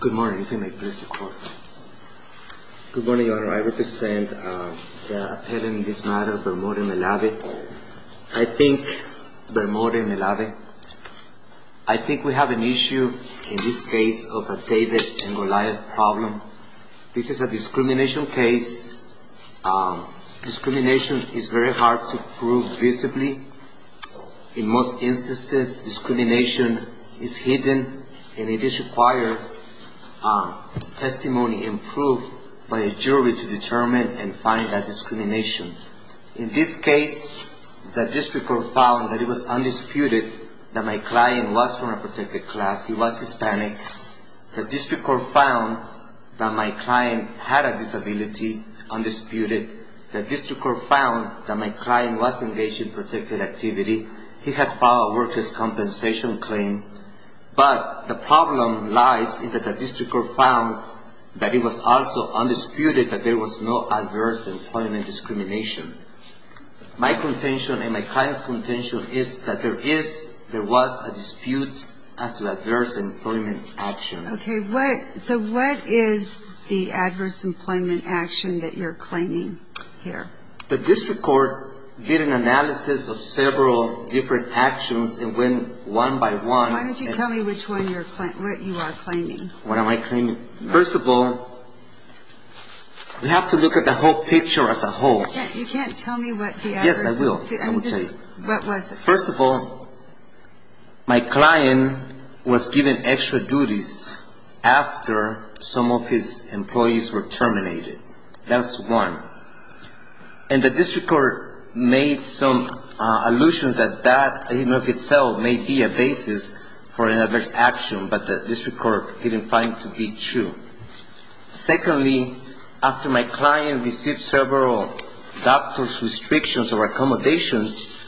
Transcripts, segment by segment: Good morning, Your Honor. I represent the appellant in this matter, Bermore Malave. I think, Bermore Malave, I think we have an issue in this case of a David and Goliath problem. This is a discrimination case. Discrimination is very hard to prove visibly. In most instances, discrimination is hidden, and it is required testimony and proof by a jury to determine and find that discrimination. In this case, the district court found that it was undisputed that my client was from a protected class. He was Hispanic. The district court found that my client had a disability, undisputed. The district court found that my client was engaged in protected activity. He had filed a workers' compensation claim. But the problem lies in that the district court found that it was also undisputed that there was no adverse employment discrimination. My contention and my client's contention is that there is, there was a dispute as to adverse employment action. Okay, what, so what is the adverse employment action that you're claiming here? The district court did an analysis of several different actions and went one by one. Why don't you tell me which one you're, what you are claiming? What am I claiming? First of all, we have to look at the whole picture as a whole. You can't, you can't tell me what the adverse. Yes, I will. What was it? First of all, my client was given extra duties after some of his employees were terminated. That's one. And the district court made some allusion that that in and of itself may be a basis for an adverse action, but the district court didn't find to be true. Secondly, after my client received several doctor's restrictions or accommodations,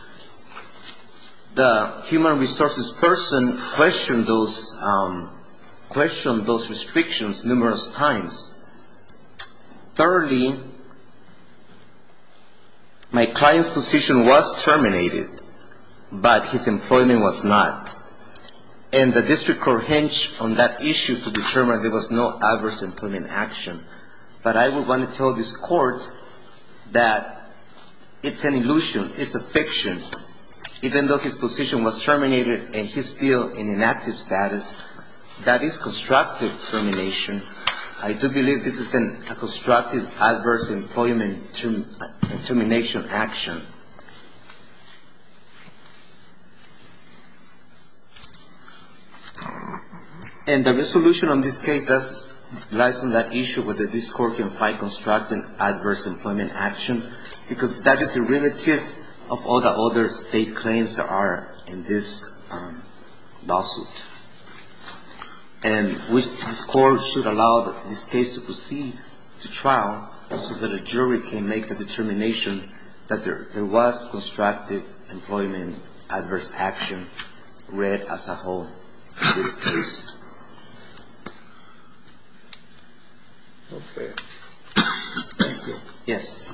the human resources person questioned those, questioned those restrictions numerous times. Thirdly, my client's position was terminated, but his employment was not. And the district court hinged on that issue to determine there was no adverse employment action. But I would want to tell this court that it's an illusion, it's a fiction. Even though his position was terminated and he's still in inactive status, that is constructive termination. I do believe this is a constructive adverse employment termination action. And the resolution on this case lies on that issue whether this court can find constructive adverse employment action, because that is derivative of all the other state claims that are in this lawsuit. And this court should allow this case to proceed to trial so that a jury can make the determination that there was constructive employment adverse action read as a whole in this case. Okay. Thank you. Yes.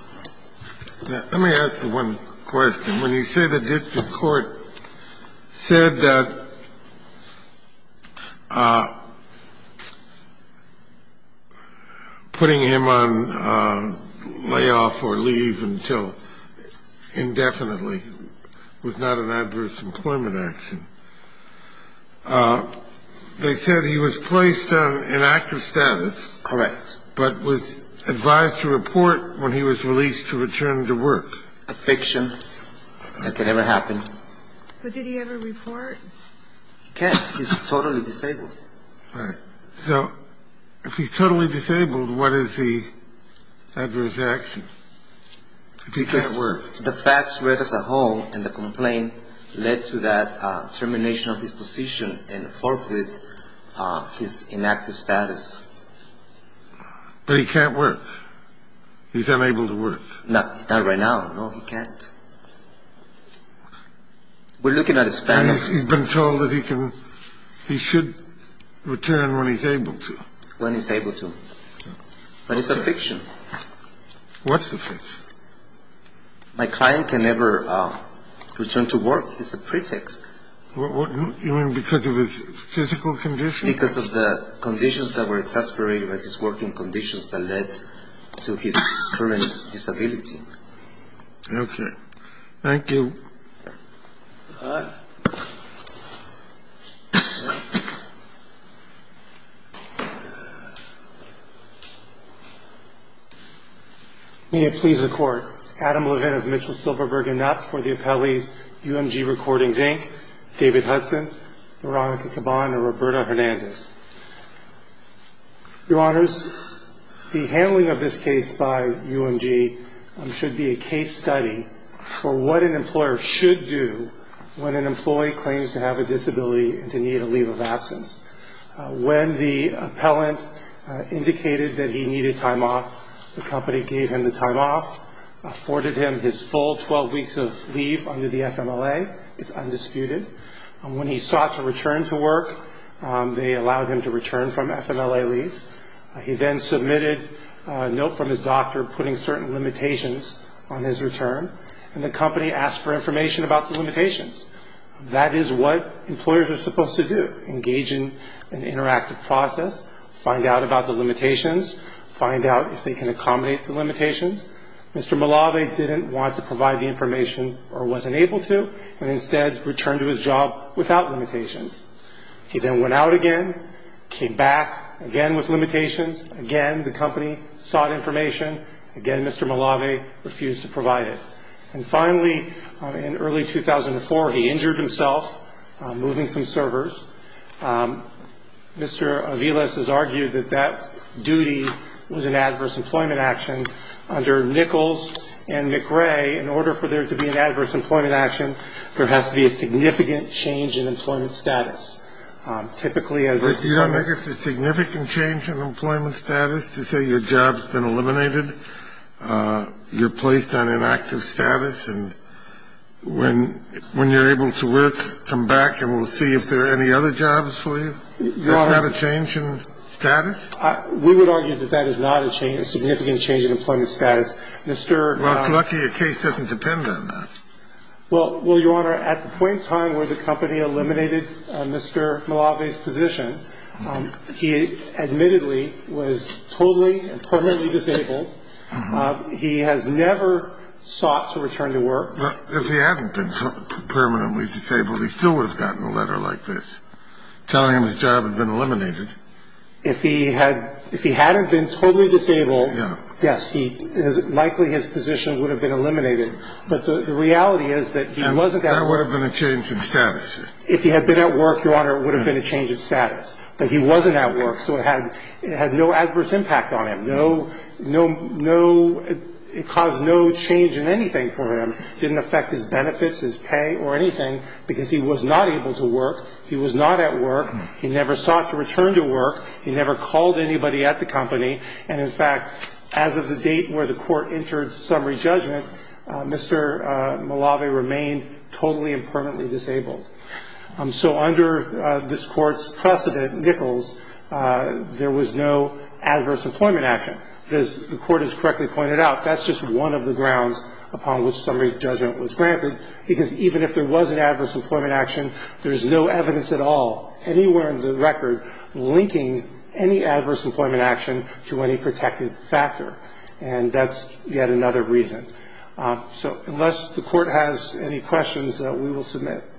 Let me ask you one question. When you say the district court said that putting him on layoff or leave until indefinitely was not an adverse employment action, they said he was placed on inactive status. Correct. But was advised to report when he was released to return to work. It's a fiction. It can never happen. But did he ever report? He can't. He's totally disabled. Right. So if he's totally disabled, what is the adverse action? If he can't work. Because the facts read as a whole and the complaint led to that termination of his position and forthwith his inactive status. But he can't work. He's unable to work. Not right now. No, he can't. We're looking at a span. He's been told that he should return when he's able to. When he's able to. But it's a fiction. What's a fiction? My client can never return to work. It's a pretext. You mean because of his physical condition? Because of the conditions that were exasperated by his working conditions that led to his current disability. Okay. Thank you. May it please the Court. Adam Levin of Mitchell, Silverberg & Knapp for the appellees, UMG Recordings, Inc., David Hudson, Veronica Caban, and Roberta Hernandez. Your Honors, the handling of this case by UMG should be a case study for what an employer should do when an employee claims to have a disability and to need a leave of absence. When the appellant indicated that he needed time off, the company gave him the time off, afforded him his full 12 weeks of leave under the FMLA. It's undisputed. When he sought to return to work, they allowed him to return from FMLA leave. He then submitted a note from his doctor putting certain limitations on his return, and the company asked for information about the limitations. That is what employers are supposed to do, engage in an interactive process, find out about the limitations, find out if they can accommodate the limitations. Mr. Malave didn't want to provide the information or wasn't able to and instead returned to his job without limitations. He then went out again, came back, again with limitations, again the company sought information, again Mr. Malave refused to provide it. And finally, in early 2004, he injured himself moving some servers. Mr. Aviles has argued that that duty was an adverse employment action. Under Nichols and McRae, in order for there to be an adverse employment action, there has to be a significant change in employment status. Typically, as a company ---- But do you not think it's a significant change in employment status to say your job's been eliminated, you're placed on inactive status, and when you're able to work, come back and we'll see if there are any other jobs for you? Isn't that a change in status? We would argue that that is not a change, a significant change in employment status. Mr. ---- Well, it's lucky your case doesn't depend on that. Well, Your Honor, at the point in time where the company eliminated Mr. Malave's position, he admittedly was totally and permanently disabled. He has never sought to return to work. If he hadn't been permanently disabled, he still would have gotten a letter like this telling him his job had been eliminated. If he had been totally disabled, yes, likely his position would have been eliminated. But the reality is that he wasn't that way. That would have been a change in status. If he had been at work, Your Honor, it would have been a change in status. But he wasn't at work, so it had no adverse impact on him. It caused no change in anything for him. It didn't affect his benefits, his pay or anything because he was not able to work. He was not at work. He never sought to return to work. He never called anybody at the company. And, in fact, as of the date where the Court entered summary judgment, Mr. Malave remained totally and permanently disabled. So under this Court's precedent, Nichols, there was no adverse employment action. As the Court has correctly pointed out, that's just one of the grounds upon which summary judgment was granted, because even if there was an adverse employment action, there's no evidence at all, anywhere in the record, linking any adverse employment action to any protected factor. And that's yet another reason. So unless the Court has any questions, we will submit.